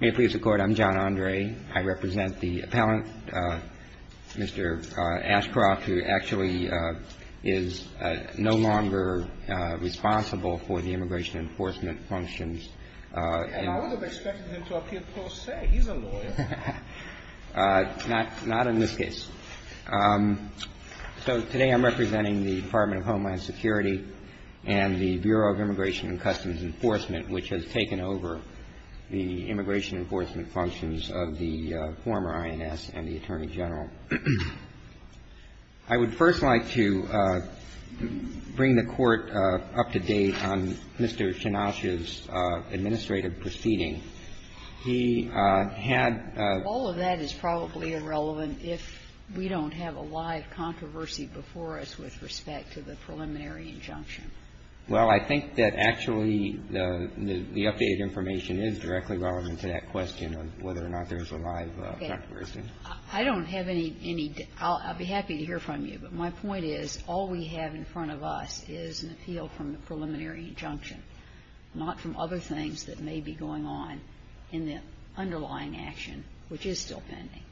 May it please the Court, I'm John Andre. I represent the appellant, Mr. Ashcroft, who actually is no longer responsible for the immigration enforcement functions. And I wouldn't have expected him to appear per se. He's a lawyer. Not in this case. So today I'm representing the Department of Homeland Security and the Bureau of Immigration and Customs Enforcement, which has taken over the immigration enforcement functions of the former INS and the Attorney General. I would first like to bring the Court up to date on Mr. Chinosh's administrative proceeding. He had a ---- All of that is probably irrelevant if we don't have a live controversy before us with respect to the preliminary injunction. Well, I think that actually the updated information is directly relevant to that question of whether or not there's a live controversy. I don't have any ---- I'll be happy to hear from you. But my point is all we have in front of us is an appeal from the preliminary injunction, not from other things that may be going on in the underlying action, which is still pending.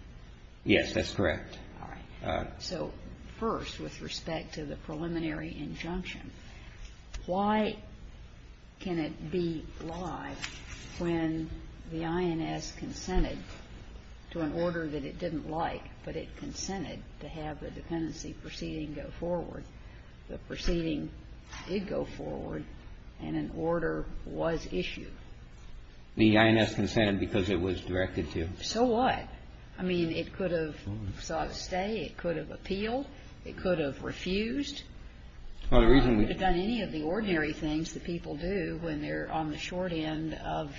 Yes, that's correct. All right. So first, with respect to the preliminary injunction, why can it be live when the INS consented to an order that it didn't like, but it consented to have the dependency proceeding go forward? The proceeding did go forward, and an order was issued. The INS consented because it was directed to. So what? I mean, it could have sought a stay, it could have appealed, it could have refused. Well, the reason we ---- We could have done any of the ordinary things that people do when they're on the short end of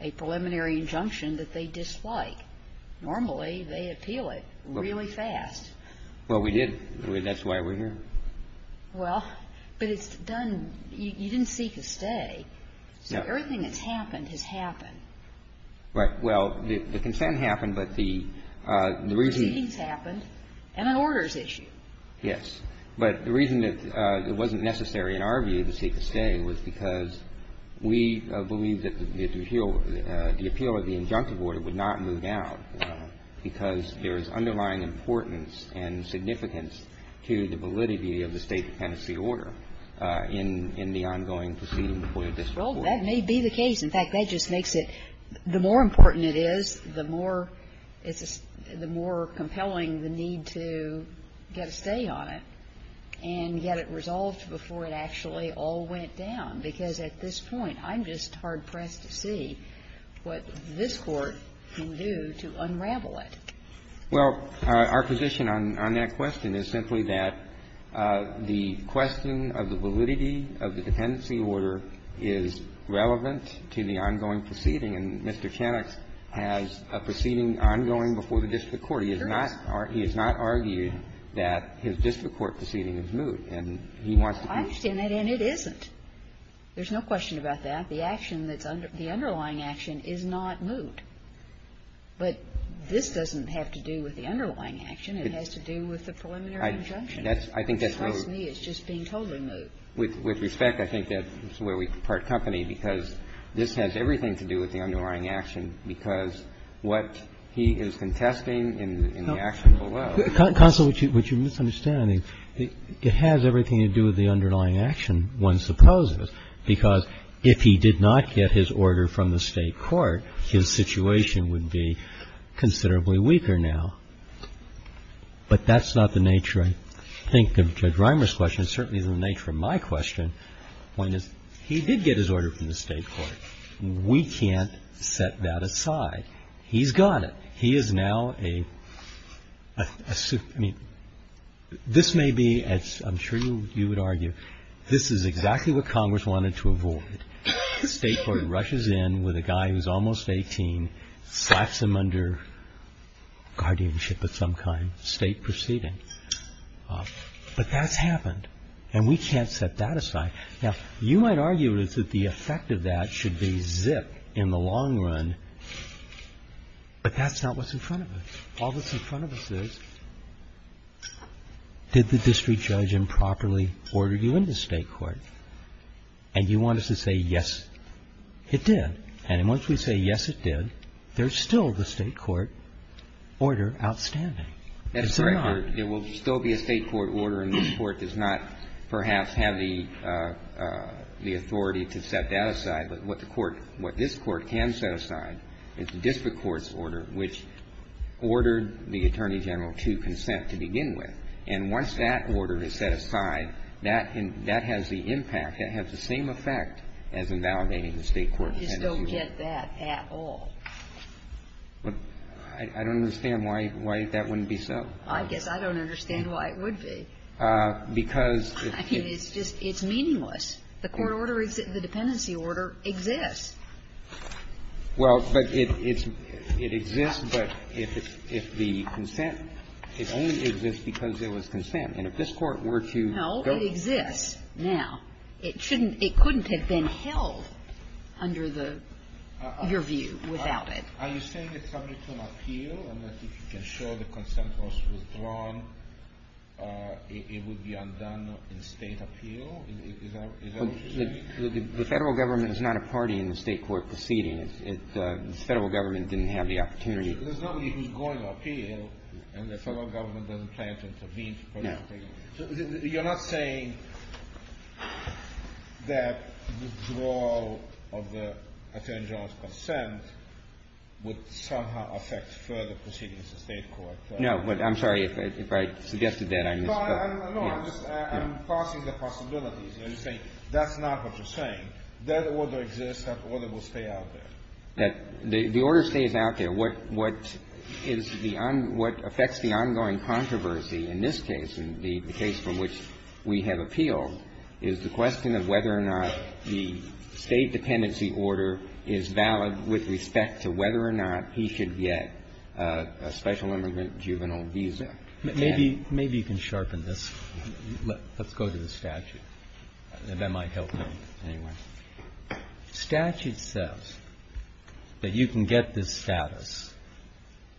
a preliminary injunction that they dislike. Normally, they appeal it really fast. Well, we did. That's why we're here. Well, but it's done ---- you didn't seek a stay. No. So everything that's happened has happened. Right. Well, the consent happened, but the reason ---- The proceeding's happened, and an order is issued. Yes. But the reason that it wasn't necessary in our view to seek a stay was because we believe that the appeal of the injunctive order would not move down because there is underlying importance and significance to the validity of the State dependency order in the ongoing proceeding before the district court. Well, that may be the case. In fact, that just makes it ---- the more important it is, the more compelling the need to get a stay on it and get it resolved before it actually all went down. Because at this point, I'm just hard-pressed to see what this Court can do to unravel it. Well, our position on that question is simply that the question of the validity of the dependency order is relevant to the ongoing proceeding. And Mr. Chenek has a proceeding ongoing before the district court. He has not argued that his district court proceeding is moot, and he wants to be ---- I understand that, and it isn't. There's no question about that. The action that's under ---- the underlying action is not moot. But this doesn't have to do with the underlying action. It has to do with the preliminary injunction. I think that's where we're ---- It's just being totally moot. With respect, I think that's where we part company, because this has everything to do with the underlying action, because what he is contesting in the action below ---- Counsel, what you're misunderstanding, it has everything to do with the underlying action, one supposes, because if he did not get his order from the State court, his situation would be considerably weaker now. But that's not the nature, I think, of Judge Reimer's question. It's certainly not the nature of my question, when he did get his order from the State court. We can't set that aside. He's got it. He is now a ---- I mean, this may be, as I'm sure you would argue, this is exactly what Congress wanted to avoid. The State court rushes in with a guy who's almost 18, slaps him under guardianship of some kind, State proceeding. But that's happened, and we can't set that aside. Now, you might argue that the effect of that should be zip in the long run, but that's not what's in front of us. All that's in front of us is, did the district judge improperly order you into State court? And you want us to say, yes, it did. And once we say, yes, it did, there's still the State court order outstanding. It's not. That's correct. There will still be a State court order, and this Court does not perhaps have the authority to set that aside. But what the Court ---- what this Court can set aside is the district court's order, which ordered the Attorney General to consent to begin with. And once that order is set aside, that has the impact, that has the same effect as invalidating the State court's dependency order. You just don't get that at all. I don't understand why that wouldn't be so. I guess I don't understand why it would be. Because if it's just ---- It's meaningless. The court order is the dependency order exists. Well, but it exists, but if the consent ---- it only exists because there was consent. And if this Court were to go ---- No, it exists now. It shouldn't ---- it couldn't have been held under the ---- your view without it. Are you saying it's subject to an appeal and that if you can show the consent was withdrawn, it would be undone in State appeal? Is that what you're saying? The Federal Government is not a party in the State court proceeding. The Federal Government didn't have the opportunity. There's nobody who's going to appeal, and the Federal Government doesn't plan to intervene to participate. No. You're not saying that withdrawal of the Attorney General's consent would somehow affect further proceedings in State court? No. But I'm sorry. If I suggested that, I missed the point. No, I'm just ---- I'm passing the possibilities. I'm just saying that's not what you're saying. That order exists. That order will stay out there. The order stays out there. What is the on ---- what affects the ongoing controversy in this case and the case from which we have appealed is the question of whether or not the State dependency order is valid with respect to whether or not he should get a special immigrant juvenile visa. Maybe you can sharpen this. Let's go to the statute. That might help me anyway. Statute says that you can get this status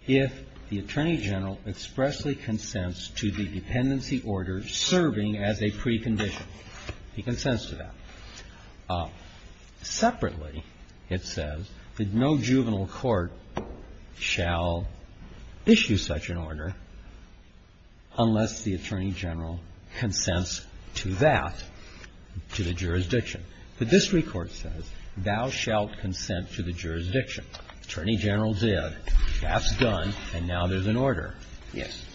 if the Attorney General expressly consents to the dependency order serving as a precondition. He consents to that. Separately, it says that no juvenile court shall issue such an order unless the Attorney General consents to that, to the jurisdiction. The district court says, thou shalt consent to the jurisdiction. Attorney General did, that's done, and now there's an order. Yes.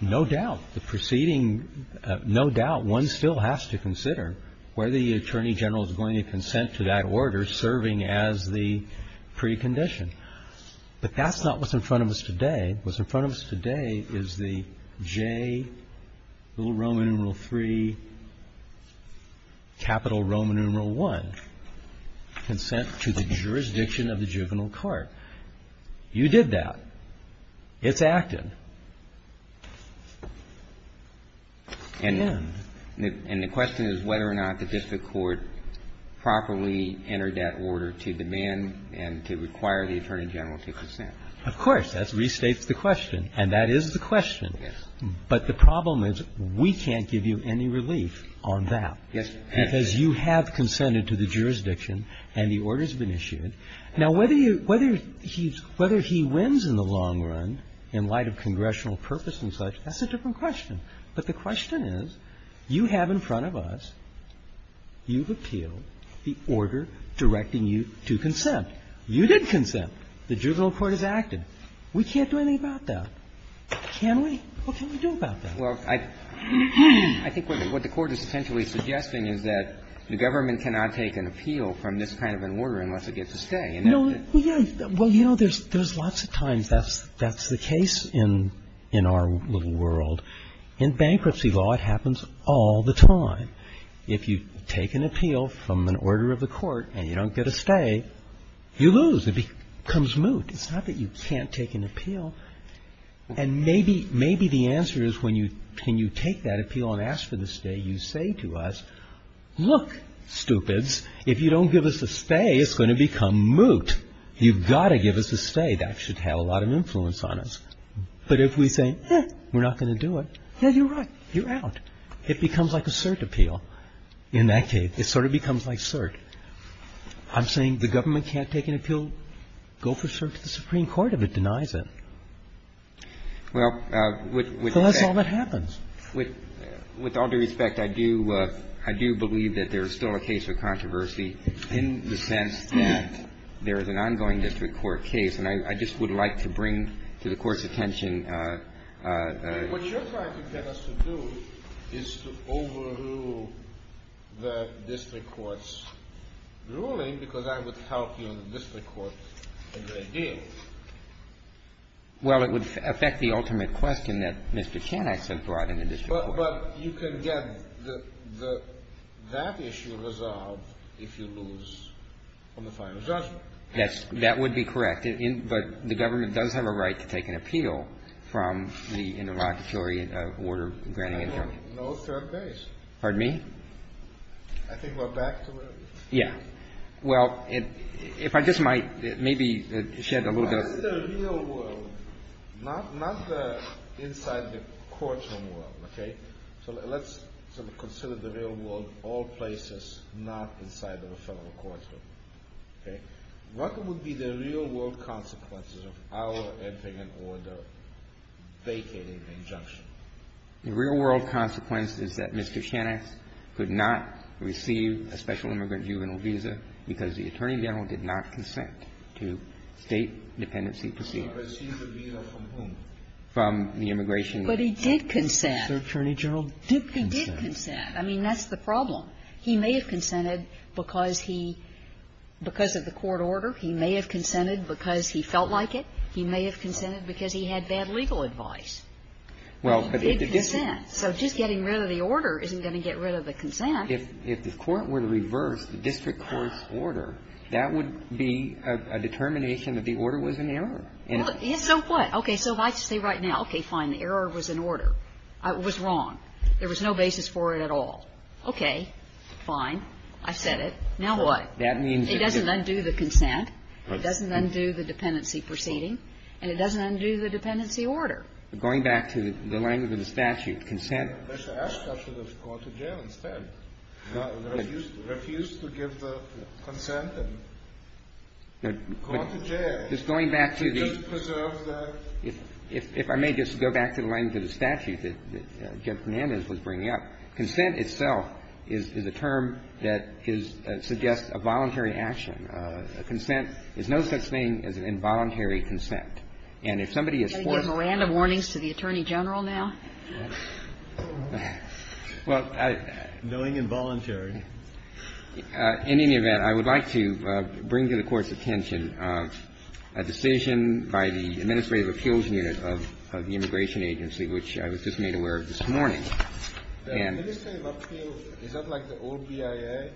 No doubt, the proceeding ---- no doubt, one still has to consider whether the Attorney General is going to consent to that order serving as the precondition. But that's not what's in front of us today. What's in front of us today is the J, little Roman numeral III, capital Roman numeral I, consent to the jurisdiction of the juvenile court. You did that. It's acted. And then? And the question is whether or not the district court properly entered that order to demand and to require the Attorney General to consent. Of course. That restates the question, and that is the question. Yes. But the problem is we can't give you any relief on that. Yes, Your Honor. Because you have consented to the jurisdiction and the order's been issued. Now, whether you ---- whether he wins in the long run in light of congressional purpose and such, that's a different question. But the question is, you have in front of us, you've appealed the order directing you to consent. You did consent. The juvenile court has acted. We can't do anything about that. Can we? What can we do about that? Well, I think what the Court is essentially suggesting is that the government cannot take an appeal from this kind of an order unless it gets a stay. No. Well, yes. Well, you know, there's lots of times that's the case in our little world. In bankruptcy law, it happens all the time. If you take an appeal from an order of the court and you don't get a stay, you lose. It becomes moot. It's not that you can't take an appeal. And maybe the answer is when you take that appeal and ask for the stay, you say to us, look, stupids, if you don't give us a stay, it's going to become moot. You've got to give us a stay. That should have a lot of influence on us. But if we say, eh, we're not going to do it, yeah, you're right. You're out. It becomes like a cert appeal in that case. It sort of becomes like cert. I'm saying the government can't take an appeal, go for cert to the Supreme Court if it denies it. So that's all that happens. With all due respect, I do believe that there is still a case of controversy in the sense that there is an ongoing district court case. And I just would like to bring to the Court's attention the question of whether or not the Supreme Court can take an appeal. I'm not ruling because I would help you in the district court a great deal. Well, it would affect the ultimate question that Mr. Chen I said brought in the district court. But you can get the – that issue resolved if you lose on the final judgment. That's – that would be correct. But the government does have a right to take an appeal from the interlocutory order granting it from you. No cert base. Pardon me? I think we're back to where we were. Yeah. Well, if I just might, maybe shed a little bit of light. What is the real world, not the inside the courtroom world, okay? So let's sort of consider the real world, all places, not inside of a federal courtroom, okay? What would be the real world consequences of our entering an order vacating an injunction? The real world consequence is that Mr. Chen could not receive a special immigrant juvenile visa because the Attorney General did not consent to State dependency proceedings. Received the visa from whom? From the immigration law firm. But he did consent. The Attorney General did consent. He did consent. I mean, that's the problem. He may have consented because he – because of the court order. He may have consented because he felt like it. He may have consented because he had bad legal advice. Well, but if the district – He did consent. So just getting rid of the order isn't going to get rid of the consent. If the court were to reverse the district court's order, that would be a determination that the order was in error. Well, so what? Okay. So if I say right now, okay, fine, the error was in order, it was wrong, there was no basis for it at all, okay, fine, I've said it, now what? That means if the – It doesn't undo the consent, it doesn't undo the dependency proceeding, and it doesn't undo the dependency order. Going back to the language of the statute, consent – Mr. Ashcroft should have gone to jail instead, refused to give the consent and gone to jail. Just going back to the – He should have preserved the – If I may just go back to the language of the statute that Judge Fernandez was bringing up, consent itself is a term that is – suggests a voluntary action. Consent is no such thing as an involuntary consent. And if somebody is forced to do something – Are you going to give random warnings to the Attorney General now? Knowing involuntary. In any event, I would like to bring to the Court's attention a decision by the Administrative Appeals Unit of the Immigration Agency, which I was just made aware of this morning. The Administrative Appeals – is that like the old BIA?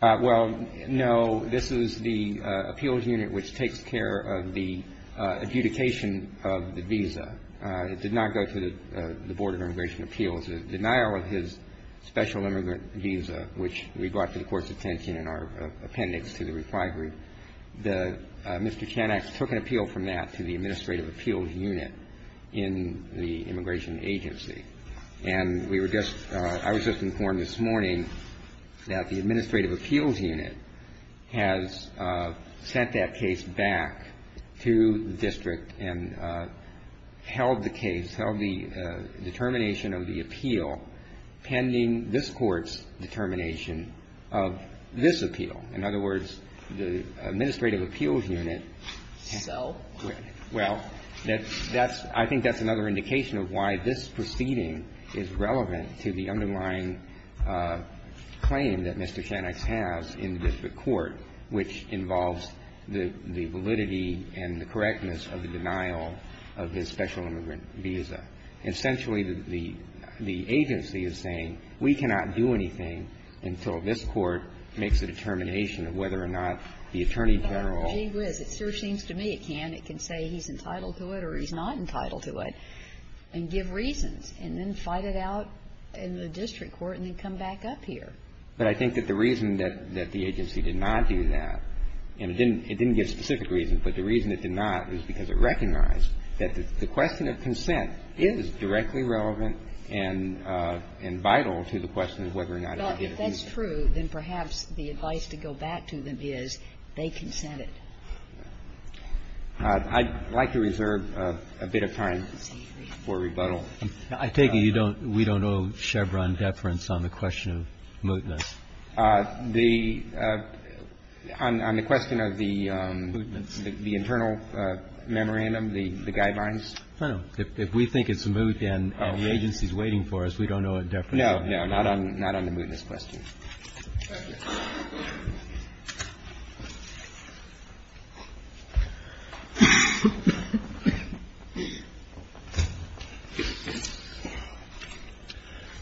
Well, no. This is the appeals unit which takes care of the adjudication of the visa. It did not go to the Board of Immigration Appeals. The denial of his special immigrant visa, which we brought to the Court's attention in our appendix to the reply group, the – Mr. Chanax took an appeal from that to the Administrative Appeals Unit in the Immigration Agency. And we were just – I was just informed this morning that the Administrative Appeals Unit has sent that case back to the district and held the case, held the determination of the appeal pending this Court's determination of this appeal. In other words, the Administrative Appeals Unit – Sell? Well, that's – that's – I think that's another indication of why this proceeding is relevant to the underlying claim that Mr. Chanax has in the district court, which involves the validity and the correctness of the denial of his special immigrant visa. Essentially, the agency is saying, we cannot do anything until this Court makes a determination of whether or not the attorney general – Well, gee whiz, it sure seems to me it can. It can say he's entitled to it or he's not entitled to it, and give reasons, and then fight it out in the district court and then come back up here. But I think that the reason that the agency did not do that, and it didn't give specific reasons, but the reason it did not was because it recognized that the question of consent is directly relevant and vital to the question of whether or not he did it. Well, if that's true, then perhaps the advice to go back to them is they consent to it. I'd like to reserve a bit of time for rebuttal. I take it you don't – we don't owe Chevron deference on the question of mootness? The – on the question of the internal memorandum, the guidelines? No. If we think it's moot and the agency's waiting for us, we don't owe it deference. No, no. Not on the mootness question. Thank you.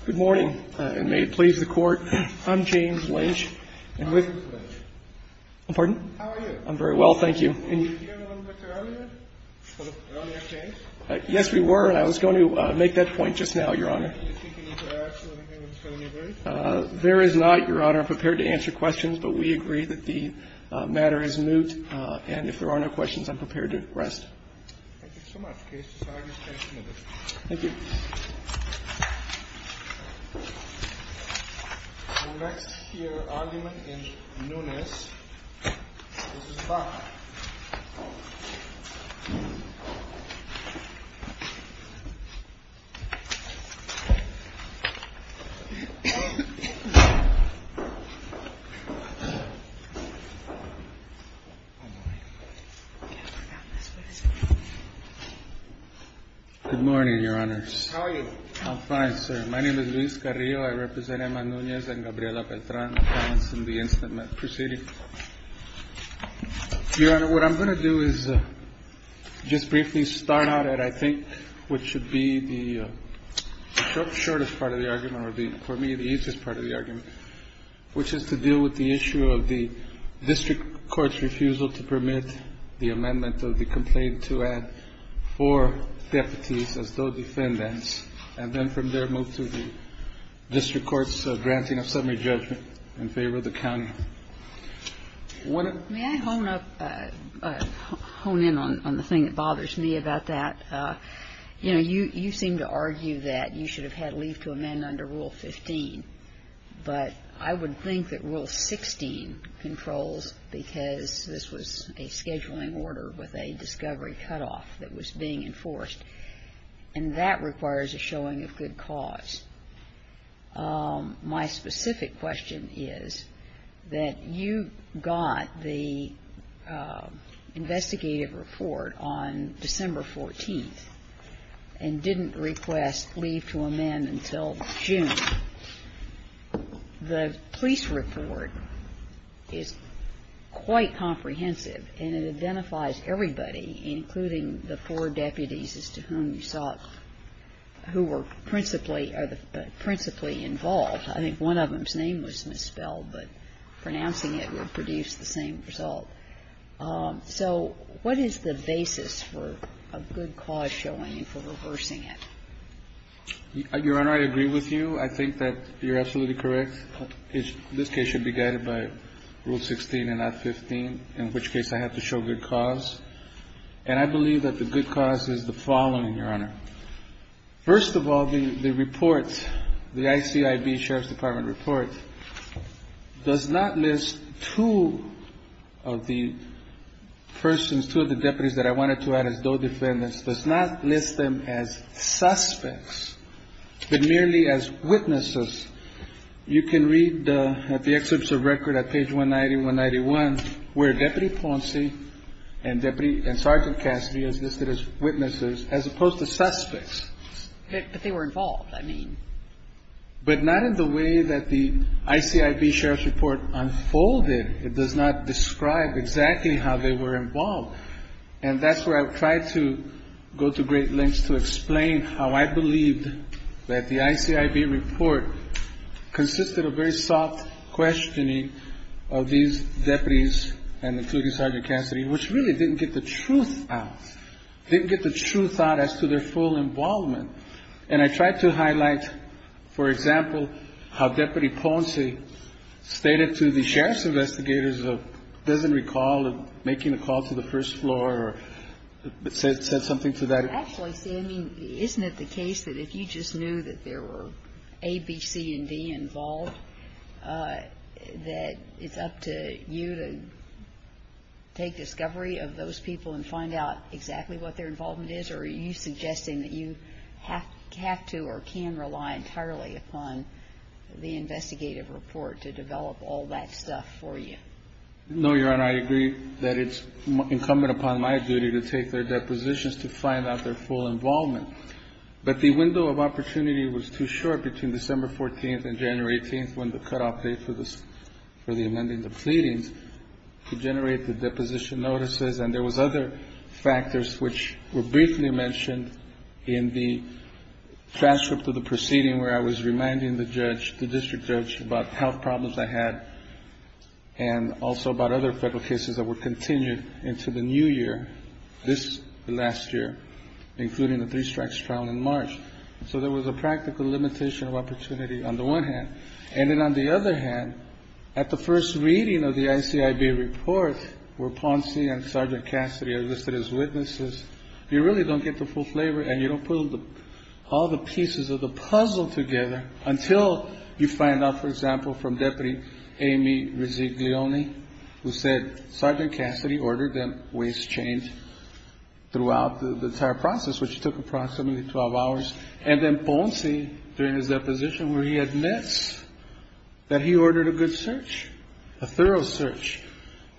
Good morning, and may it please the Court. I'm James Lynch. I'm with – How are you, Mr. Lynch? I'm very well, thank you. Were you here a little bit earlier? Earlier change? Yes, we were, and I was going to make that point just now, Your Honor. Do you think any interaction with him is going to be great? There is not, Your Honor. I'm prepared to answer questions, but we agree that the matter is moot, and if there are no questions, I'm prepared to rest. Thank you so much, case. This argument stands committed. Thank you. The next here argument is Nunes v. Baca. Good morning, Your Honors. How are you? I'm fine, sir. My name is Luis Carrillo. I represent Emma Nunes and Gabriela Petranz in the incident. Proceeding. Your Honor, what I'm going to do is just briefly start out at, I think, what should be the shortest part of the argument, or for me, the easiest part of the argument, which is to deal with the issue of the district court's refusal to permit the amendment of the complaint to add four deputies as though defendants, and then from there move to the district court's granting of summary judgment in favor of the county. May I hone in on the thing that bothers me about that? You know, you seem to argue that you should have had leave to amend under Rule 15, but I would think that Rule 16 controls because this was a scheduling order with a discovery cutoff that was being enforced, and that requires a showing of good cause. My specific question is that you got the investigative report on December 14th and didn't request leave to amend until June. The police report is quite comprehensive, and it identifies everybody, including the four deputies, as to whom you sought, who were principally involved. I think one of them's name was misspelled, but pronouncing it would produce the same result. So what is the basis for a good cause showing and for reversing it? Your Honor, I agree with you. I think that you're absolutely correct. This case should be guided by Rule 16 and not 15, in which case I have to show good cause. And I believe that the good cause is the following, Your Honor. First of all, the report, the ICIB Sheriff's Department report, does not list two of the persons, two of the deputies that I wanted to add as DOE defendants, does not list them as suspects, but merely as witnesses. You can read at the excerpts of record at page 190, 191, where Deputy Ponce and Deputy and Sergeant Cassidy is listed as witnesses, as opposed to suspects. But they were involved, I mean. But not in the way that the ICIB Sheriff's report unfolded. It does not describe exactly how they were involved. And that's where I've tried to go to great lengths to explain how I believed that the ICIB report consisted of very soft questioning of these deputies, and including Sergeant Cassidy, which really didn't get the truth out, didn't get the truth out as to their full involvement. And I tried to highlight, for example, how Deputy Ponce stated to the sheriff's investigators of doesn't recall making a call to the first floor or said something to that effect. I mean, isn't it the case that if you just knew that there were A, B, C, and D involved, that it's up to you to take discovery of those people and find out exactly what their involvement is? Or are you suggesting that you have to or can rely entirely upon the investigative report to develop all that stuff for you? No, Your Honor, I agree that it's incumbent upon my duty to take their depositions to find out their full involvement. But the window of opportunity was too short between December 14th and January 18th, when the cutoff date for the amending the pleadings to generate the deposition notices. And there was other factors which were briefly mentioned in the transcript of the proceeding where I was reminding the judge, the district judge, about health problems I had and also about other federal cases that were continued into the new year, this last year, including the three strikes trial in March. So there was a practical limitation of opportunity on the one hand. And then on the other hand, at the first reading of the ICIB report where Ponce and Sergeant Cassidy are listed as witnesses, you really don't get the full flavor and you don't put all the pieces of the puzzle together until you find out, for example, from Deputy Amy Rizziglione, who said Sergeant Cassidy ordered them waist-chained throughout the entire process, which took approximately 12 hours, and then Ponce, during his deposition, where he admits that he ordered a good search, a thorough search,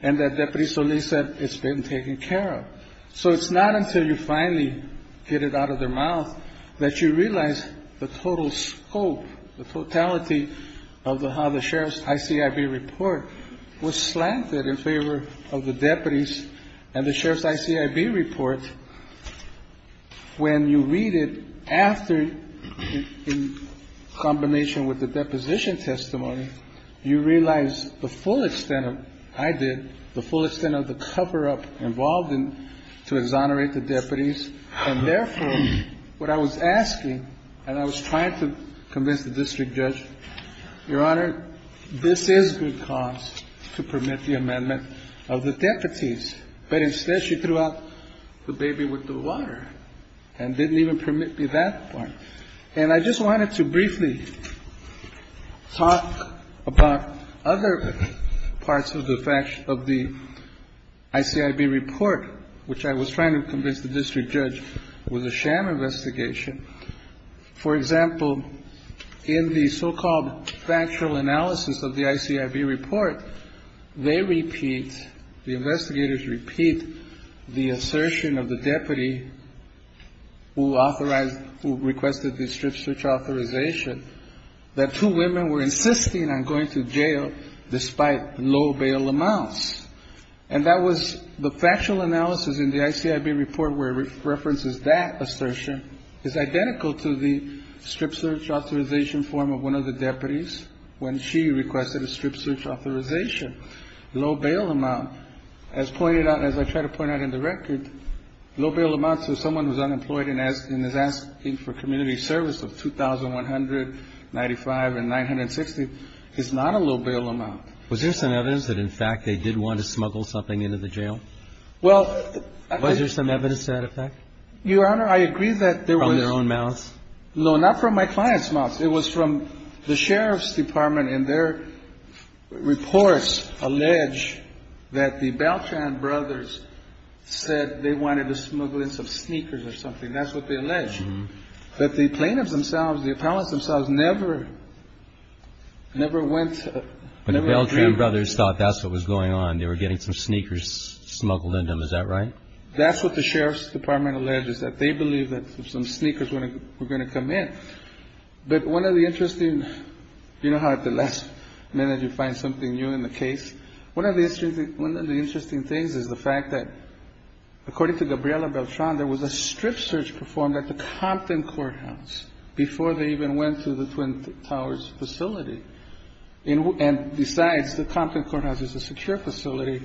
and that Deputy Solis said it's been taken care of. So it's not until you finally get it out of their mouth that you realize the total scope, the totality of how the sheriff's ICIB report was slanted in favor of the deputies and the sheriff's ICIB report. When you read it after, in combination with the deposition testimony, you realize the full extent of, I did, the full extent of the cover-up involved in, to exonerate the deputies. And therefore, what I was asking, and I was trying to convince the district judge, Your Honor, this is good cause to permit the amendment of the deputies. But instead, she threw out the baby with the water and didn't even permit me that part. And I just wanted to briefly talk about other parts of the faction, of the department of the ICIB report, which I was trying to convince the district judge was a sham investigation. For example, in the so-called factual analysis of the ICIB report, they repeat, the investigators repeat the assertion of the deputy who authorized, who requested the strip search authorization, that two women were insisting on going to jail despite low bail amounts. And that was the factual analysis in the ICIB report where it references that assertion. It's identical to the strip search authorization form of one of the deputies when she requested a strip search authorization. Low bail amount, as pointed out, as I try to point out in the record, low bail amounts to someone who's unemployed and is asking for community service of $2,195 and $960 is not a low bail amount. Was there some evidence that, in fact, they did want to smuggle something into the jail? Was there some evidence to that effect? Your Honor, I agree that there was. From their own mouths? No, not from my client's mouth. It was from the sheriff's department, and their reports allege that the Beltran brothers said they wanted to smuggle in some sneakers or something. That's what they allege. But the plaintiffs themselves, the appellants themselves never, never went. But the Beltran brothers thought that's what was going on. They were getting some sneakers smuggled into them. Is that right? That's what the sheriff's department alleged, is that they believed that some sneakers were going to come in. But one of the interesting, you know how at the last minute you find something new in the case? One of the interesting things is the fact that, according to Gabriela Beltran, there was a strip search performed at the Compton Courthouse before they even went to the Twin Towers facility. And besides, the Compton Courthouse is a secure facility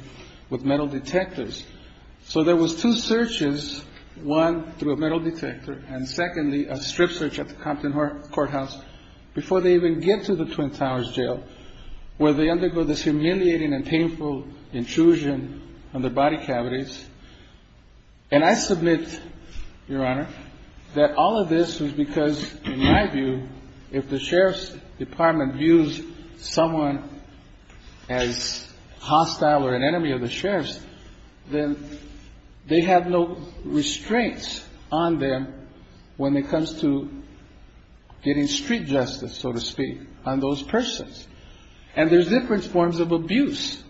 with metal detectors. So there was two searches, one through a metal detector, and secondly, a strip search at the Compton Courthouse before they even get to the Twin Towers jail, where they undergo this humiliating and painful intrusion on their body cavities. And I submit, Your Honor, that all of this was because, in my view, if the sheriff's department views someone as hostile or an enemy of the sheriff's, then they have no restraints on them when it comes to getting street justice, so to speak, on those persons. And there's different forms of abuse.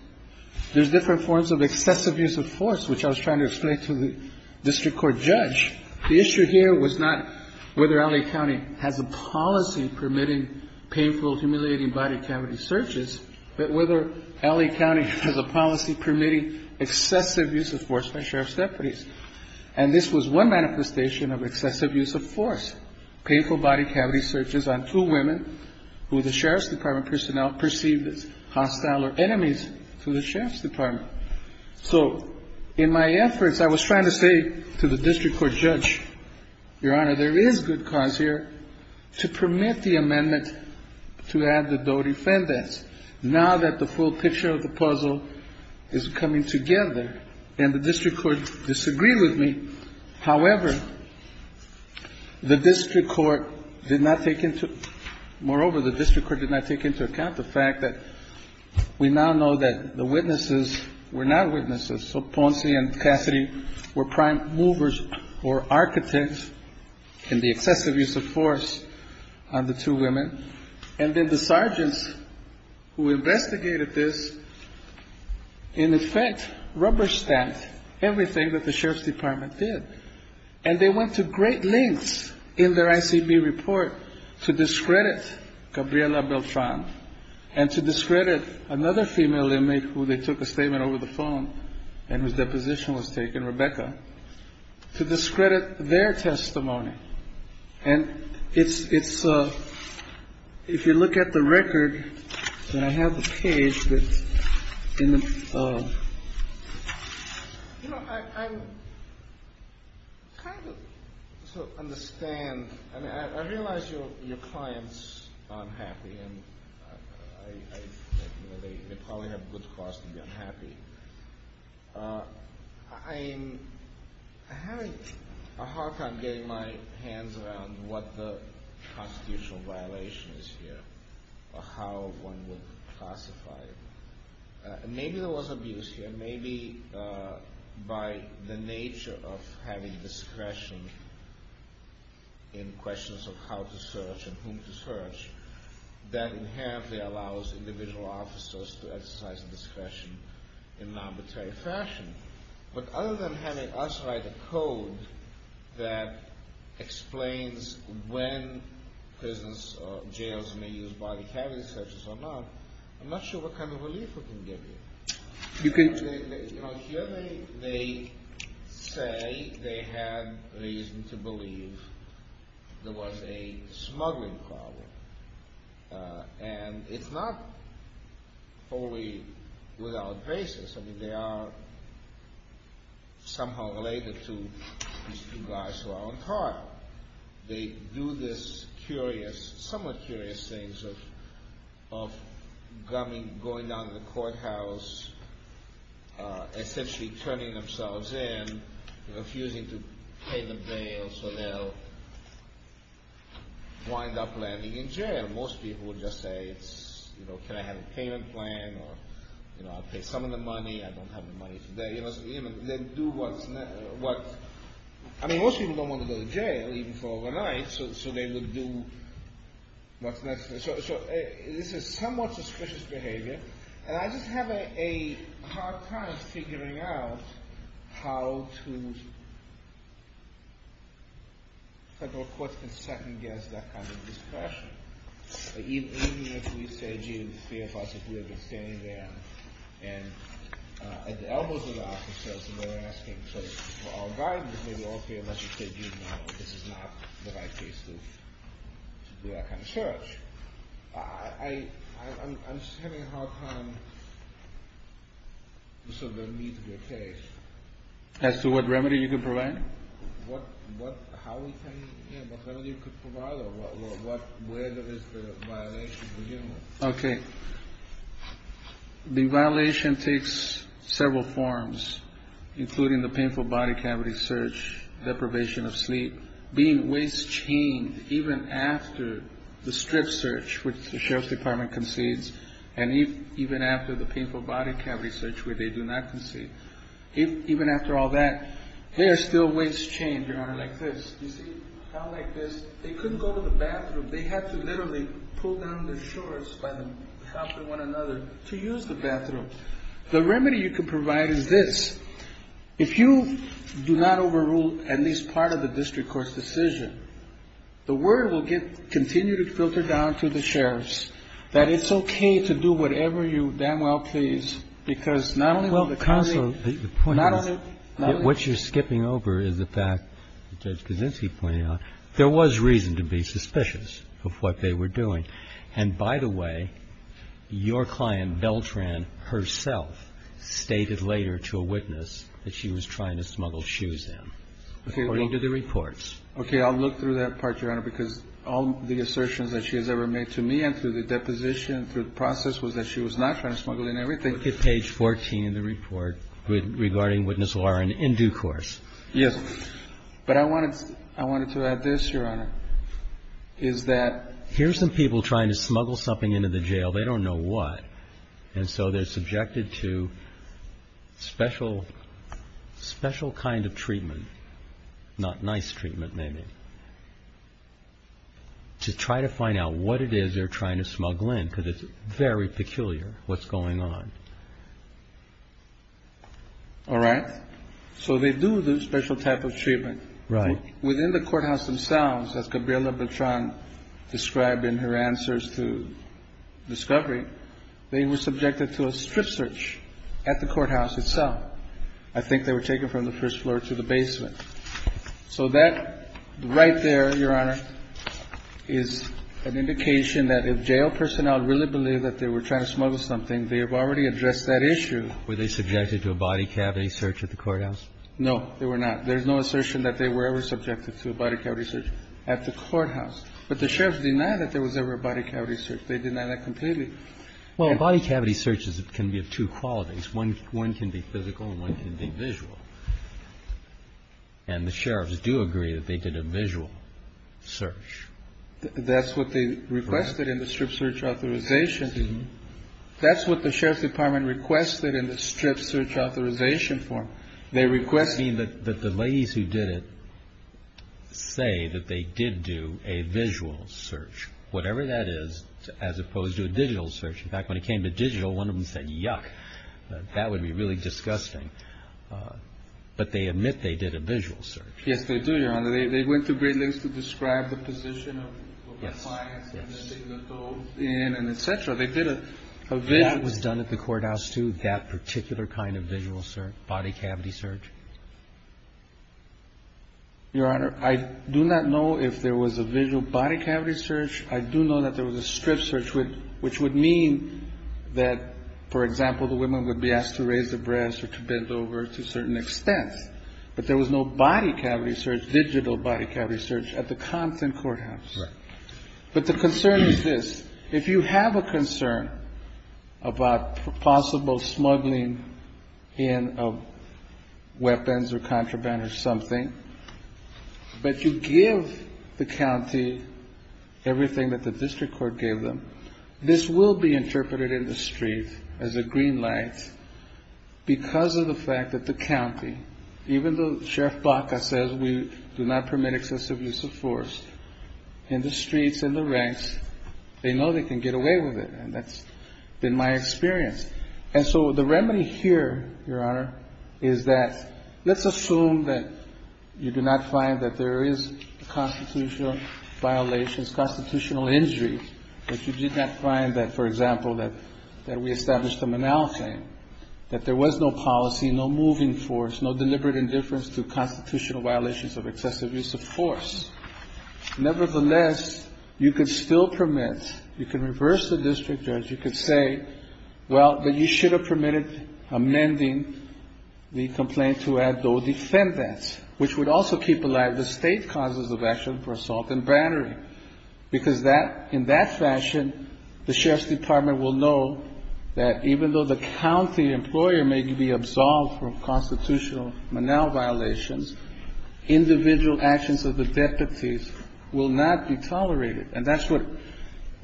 There's different forms of excessive use of force, which I was trying to explain to the district court judge. The issue here was not whether L.A. County has a policy permitting painful, humiliating body cavity searches, but whether L.A. County has a policy permitting excessive use of force by sheriff's deputies. And this was one manifestation of excessive use of force, painful body cavity searches on two women who the sheriff's department personnel perceived as hostile or enemies to the sheriff's department. So in my efforts, I was trying to say to the district court judge, Your Honor, there is good cause here to permit the amendment to add the dodefendants, now that the full picture of the puzzle is coming together. And the district court disagreed with me. However, the district court did not take into, moreover, the district court did not take into account the fact that we now know that the witnesses were not witnesses. So Ponce and Cassidy were prime movers or architects in the excessive use of force on the two women. And then the sergeants who investigated this, in effect, rubber-stamped everything that the sheriff's department did. And they went to great lengths in their ICB report to discredit Gabriela Beltran and to discredit another female inmate who they took a statement over the phone and whose deposition was taken, Rebecca, to discredit their testimony. And it's, if you look at the record, and I have the page that's in the... You know, I kind of understand. I realize your clients are unhappy, and they probably have good cause to be unhappy. I'm having a hard time getting my hands around what the constitutional violation is here, or how one would classify it. Maybe there was abuse here, maybe by the nature of having discretion in questions of how to search and whom to search that inherently allows individual officers to exercise discretion in an arbitrary fashion. But other than having us write a code that explains when prisons or jails may use body cavity searches or not, I'm not sure what kind of relief we can give you. You know, here they say they had reason to believe there was a smuggling problem. And it's not wholly without basis. I mean, they are somehow related to these two guys who are on trial. They do this somewhat curious thing of going down to the courthouse, essentially turning themselves in, refusing to pay the bail so they'll wind up landing in jail. Most people would just say, can I have a payment plan, or I'll pay some of the money. I don't have the money today. I mean, most people don't want to go to jail, even for overnight, so they would do what's necessary. So this is somewhat suspicious behavior. And I just have a hard time figuring out how to... Federal courts can second-guess that kind of discretion. Even if we say, gee, the fear of us, if we had been standing there at the elbows of the opposition, and they were asking for our guidance, maybe, okay, unless you say, you know, this is not the right place to do that kind of search. I'm just having a hard time... So there needs to be a case. As to what remedy you could provide? Okay. The violation takes several forms, including the painful body cavity search, deprivation of sleep, being waist-chained even after the strip search, which the Sheriff's Department concedes, and even after the painful body cavity search, which they do not concede. Even after all that, they are still waist-chained, Your Honor, like this. They couldn't go to the bathroom. They had to literally pull down their shorts by the top of one another to use the bathroom. The remedy you could provide is this. If you do not overrule at least part of the district court's decision, the word will continue to filter down to the sheriffs that it's okay to do whatever you damn well please, because not only will the county... Well, Counsel, the point is... Not only... What you're skipping over is the fact that Judge Kaczynski pointed out there was reason to be suspicious of what they were doing. And by the way, your client, Beltran herself, stated later to a witness that she was trying to smuggle shoes in, according to the reports. Okay, I'll look through that part, Your Honor, because all the assertions that she has ever made to me and through the deposition, through the process, was that she was not trying to smuggle in everything. Look at page 14 in the report regarding witness Warren in due course. Yes. But I wanted to add this, Your Honor, is that... Here's some people trying to smuggle something into the jail. They don't know what, and so they're subjected to special kind of treatment, not nice treatment, maybe, to try to find out what it is they're trying to smuggle in, because it's very peculiar what's going on. All right. So they do the special type of treatment. Right. Within the courthouse themselves, as Gabriela Beltran described in her answers to discovery, they were subjected to a strip search at the courthouse itself. I think they were taken from the first floor to the basement. So that right there, Your Honor, is an indication that if jail personnel really believe that they were trying to smuggle something, they have already addressed that issue. Were they subjected to a body cavity search at the courthouse? No, they were not. There's no assertion that they were ever subjected to a body cavity search at the courthouse. But the sheriffs deny that there was ever a body cavity search. They deny that completely. Well, a body cavity search can be of two qualities. One can be physical and one can be visual. And the sheriffs do agree that they did a visual search. That's what they requested in the strip search authorization. That's what the sheriff's department requested in the strip search authorization form. They requested... You mean that the ladies who did it say that they did do a visual search, whatever that is, as opposed to a digital search. In fact, when it came to digital, one of them said, yuck, that would be really disgusting. But they admit they did a visual search. Yes, they do, Your Honor. They went to great lengths to describe the position of the clients and then they let those in and et cetera. They did a visual... Was that done at the courthouse too, that particular kind of visual search, body cavity search? Your Honor, I do not know if there was a visual body cavity search. I do know that there was a strip search, which would mean that, for example, the women would be asked to raise their breasts or to bend over to a certain extent. But there was no body cavity search, digital body cavity search, at the Compton Courthouse. Right. But the concern is this. If you have a concern about possible smuggling in of weapons or contraband or something, but you give the county everything that the district court gave them, this will be interpreted in the streets as a green light because of the fact that the county, even though Sheriff Baca says we do not permit excessive use of force, in the streets, in the ranks, they know they can get away with it. And that's been my experience. And so the remedy here, Your Honor, is that let's assume that you do not find that there is constitutional violations, constitutional injury, that you did not find that, for example, that we established a monolithic, that there was no policy, no moving force, no deliberate indifference to constitutional violations of excessive use of force. Nevertheless, you could still permit, you can reverse the district judge, you could say, well, that you should have permitted amending the complaint to add though defendants, which would also keep alive the state causes of action for assault and battery. Because that, in that fashion, the Sheriff's Department will know that even though the county employer may be absolved from constitutional violations, individual actions of the deputies will not be tolerated. And that's what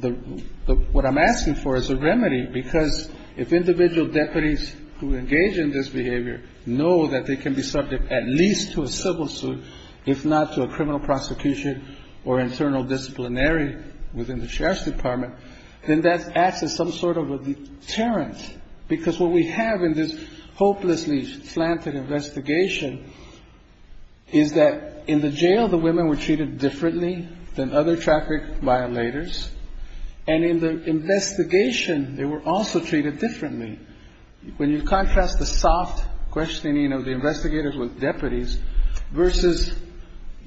I'm asking for, is a remedy. Because if individual deputies who engage in this behavior know that they can be subject at least to a civil suit, if not to a criminal prosecution or internal disciplinary within the Sheriff's Department, then that acts as some sort of a deterrent. Because what we have in this hopelessly slanted investigation is that in the jail, some of the women were treated differently than other traffic violators. And in the investigation, they were also treated differently. When you contrast the soft questioning of the investigators with deputies versus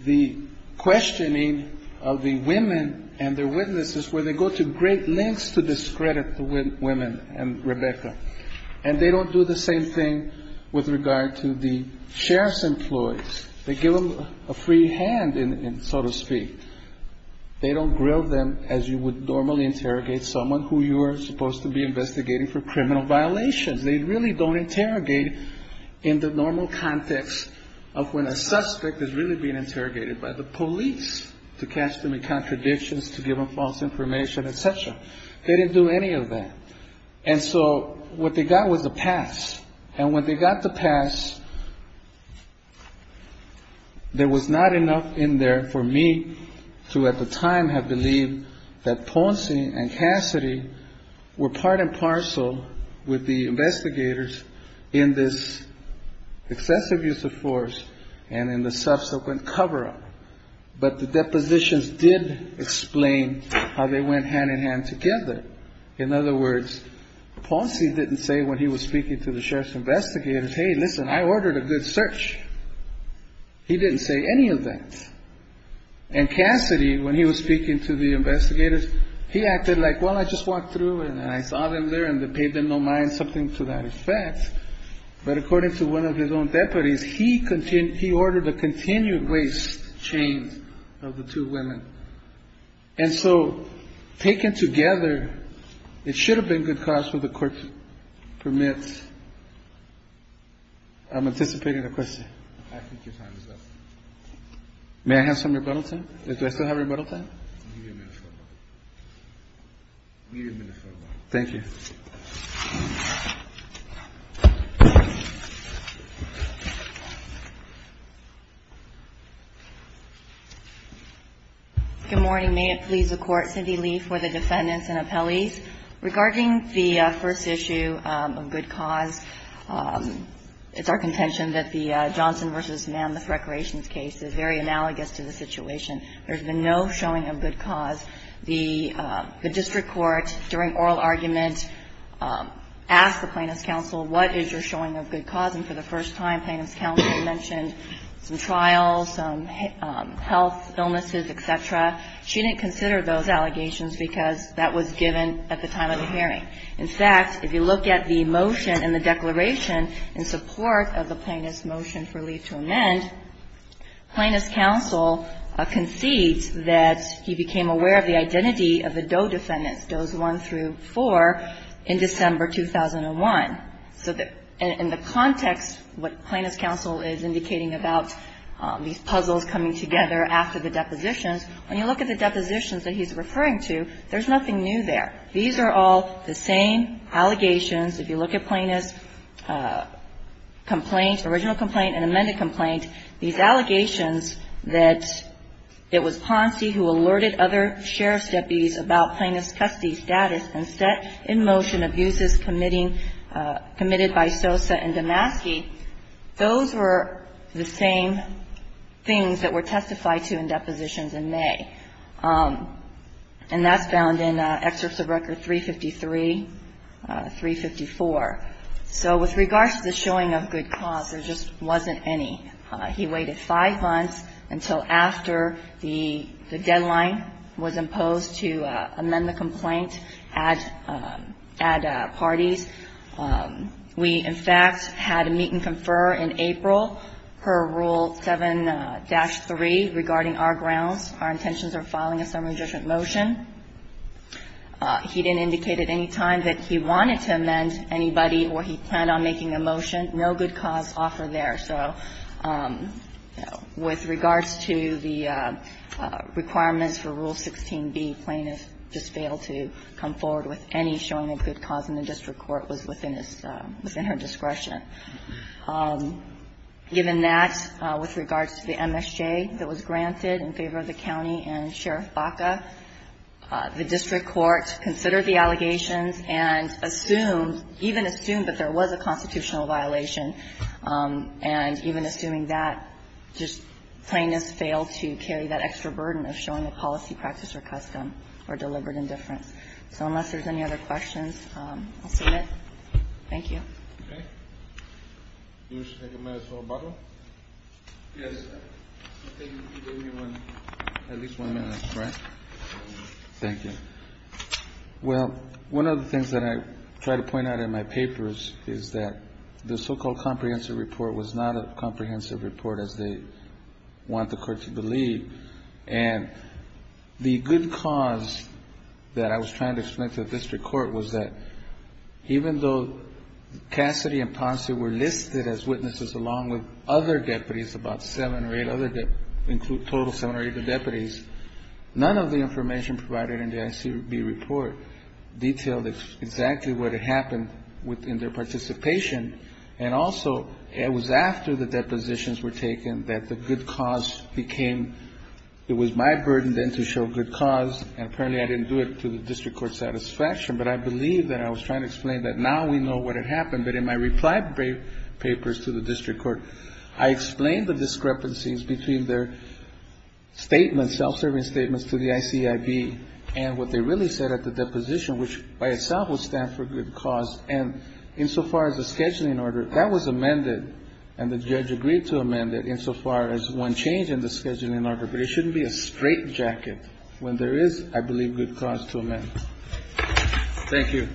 the questioning of the women and their witnesses, where they go to great lengths to discredit the women and Rebecca. And they don't do the same thing with regard to the sheriff's employees. They give them a free hand, so to speak. They don't grill them as you would normally interrogate someone who you are supposed to be investigating for criminal violations. They really don't interrogate in the normal context of when a suspect is really being interrogated by the police to cast them in contradictions, to give them false information, et cetera. They didn't do any of that. And so what they got was a pass. And when they got the pass, there was not enough in there for me to at the time have believed that Ponce and Cassidy were part and parcel with the investigators in this excessive use of force and in the subsequent cover up. But the depositions did explain how they went hand in hand together. In other words, Ponce didn't say when he was speaking to the sheriff's investigators, hey, listen, I ordered a good search. He didn't say any of that. And Cassidy, when he was speaking to the investigators, he acted like, well, I just walked through and I saw them there and they paid them no mind, something to that effect. But according to one of his own deputies, he ordered a continued waste chain of the two women. And so taken together, it should have been good cause for the court to permit. I'm anticipating a question. May I have some rebuttal time? Do I still have rebuttal time? Thank you. Good morning. May it please the Court. Cindy Lee for the defendants and appellees. Regarding the first issue of good cause, it's our contention that the Johnson v. Mammoth Recreations case is very analogous to the situation. There's been no showing of good cause. The district court, during oral argument, asked the plaintiff's counsel, what is your showing of good cause? And for the first time, plaintiff's counsel mentioned some trials, some health illnesses, et cetera. She didn't consider those allegations because that was given at the time of the hearing. In fact, if you look at the motion in the declaration in support of the plaintiff's motion for leave to amend, plaintiff's counsel concedes that he became aware of the identity of the Doe defendants, Does 1 through 4, in December 2001. So in the context, what plaintiff's counsel is indicating about these puzzles coming together after the depositions, when you look at the depositions that he's referring to, there's nothing new there. These are all the same allegations. If you look at plaintiff's complaint, original complaint and amended complaint, these allegations that it was Ponzi who alerted other sheriff's deputies about plaintiff's custody status and set in motion abuses committed by Sosa and Damaski, those were the same things that were testified to in depositions in May. And that's found in Excerpts of Record 353, 354. So with regards to the showing of good cause, there just wasn't any. He waited five months until after the deadline was imposed to amend the complaint at parties. We, in fact, had a meet and confer in April per Rule 7-3 regarding our grounds, our intentions of filing a summary judgment motion. He didn't indicate at any time that he wanted to amend anybody or he planned on making a motion. No good cause offered there. So with regards to the requirements for Rule 16b, plaintiff just failed to come forward with any showing of good cause, and the district court was within his or her discretion. Given that, with regards to the MSJ that was granted in favor of the county and Sheriff Baca, the district court considered the allegations and assumed, even assumed that there was a constitutional violation, and even assuming that, just plaintiffs failed to carry that extra burden of showing a policy, practice, or custom or deliberate indifference. So unless there's any other questions, I'll submit. Thank you. Okay. You wish to take a minute for rebuttal? Yes. I think you gave me at least one minute, correct? Thank you. Well, one of the things that I try to point out in my papers is that the so-called comprehensive report was not a comprehensive report as they want the court to believe. And the good cause that I was trying to explain to the district court was that even though Cassidy and Ponce were listed as witnesses, along with other deputies, about seven or eight other deputies, include total seven or eight of deputies, none of the information provided in the ICB report detailed exactly what had happened within their participation. And also, it was after the depositions were taken that the good cause became my burden then to show good cause. And apparently I didn't do it to the district court's satisfaction. But I believe that I was trying to explain that now we know what had happened. But in my reply papers to the district court, I explained the discrepancies between their statements, self-serving statements to the ICIB and what they really said at the deposition, which by itself would stand for good cause. And insofar as the scheduling order, that was amended, and the judge agreed to amend it insofar as one change in the scheduling order. But it shouldn't be a straitjacket. When there is, I believe good cause to amend. Thank you.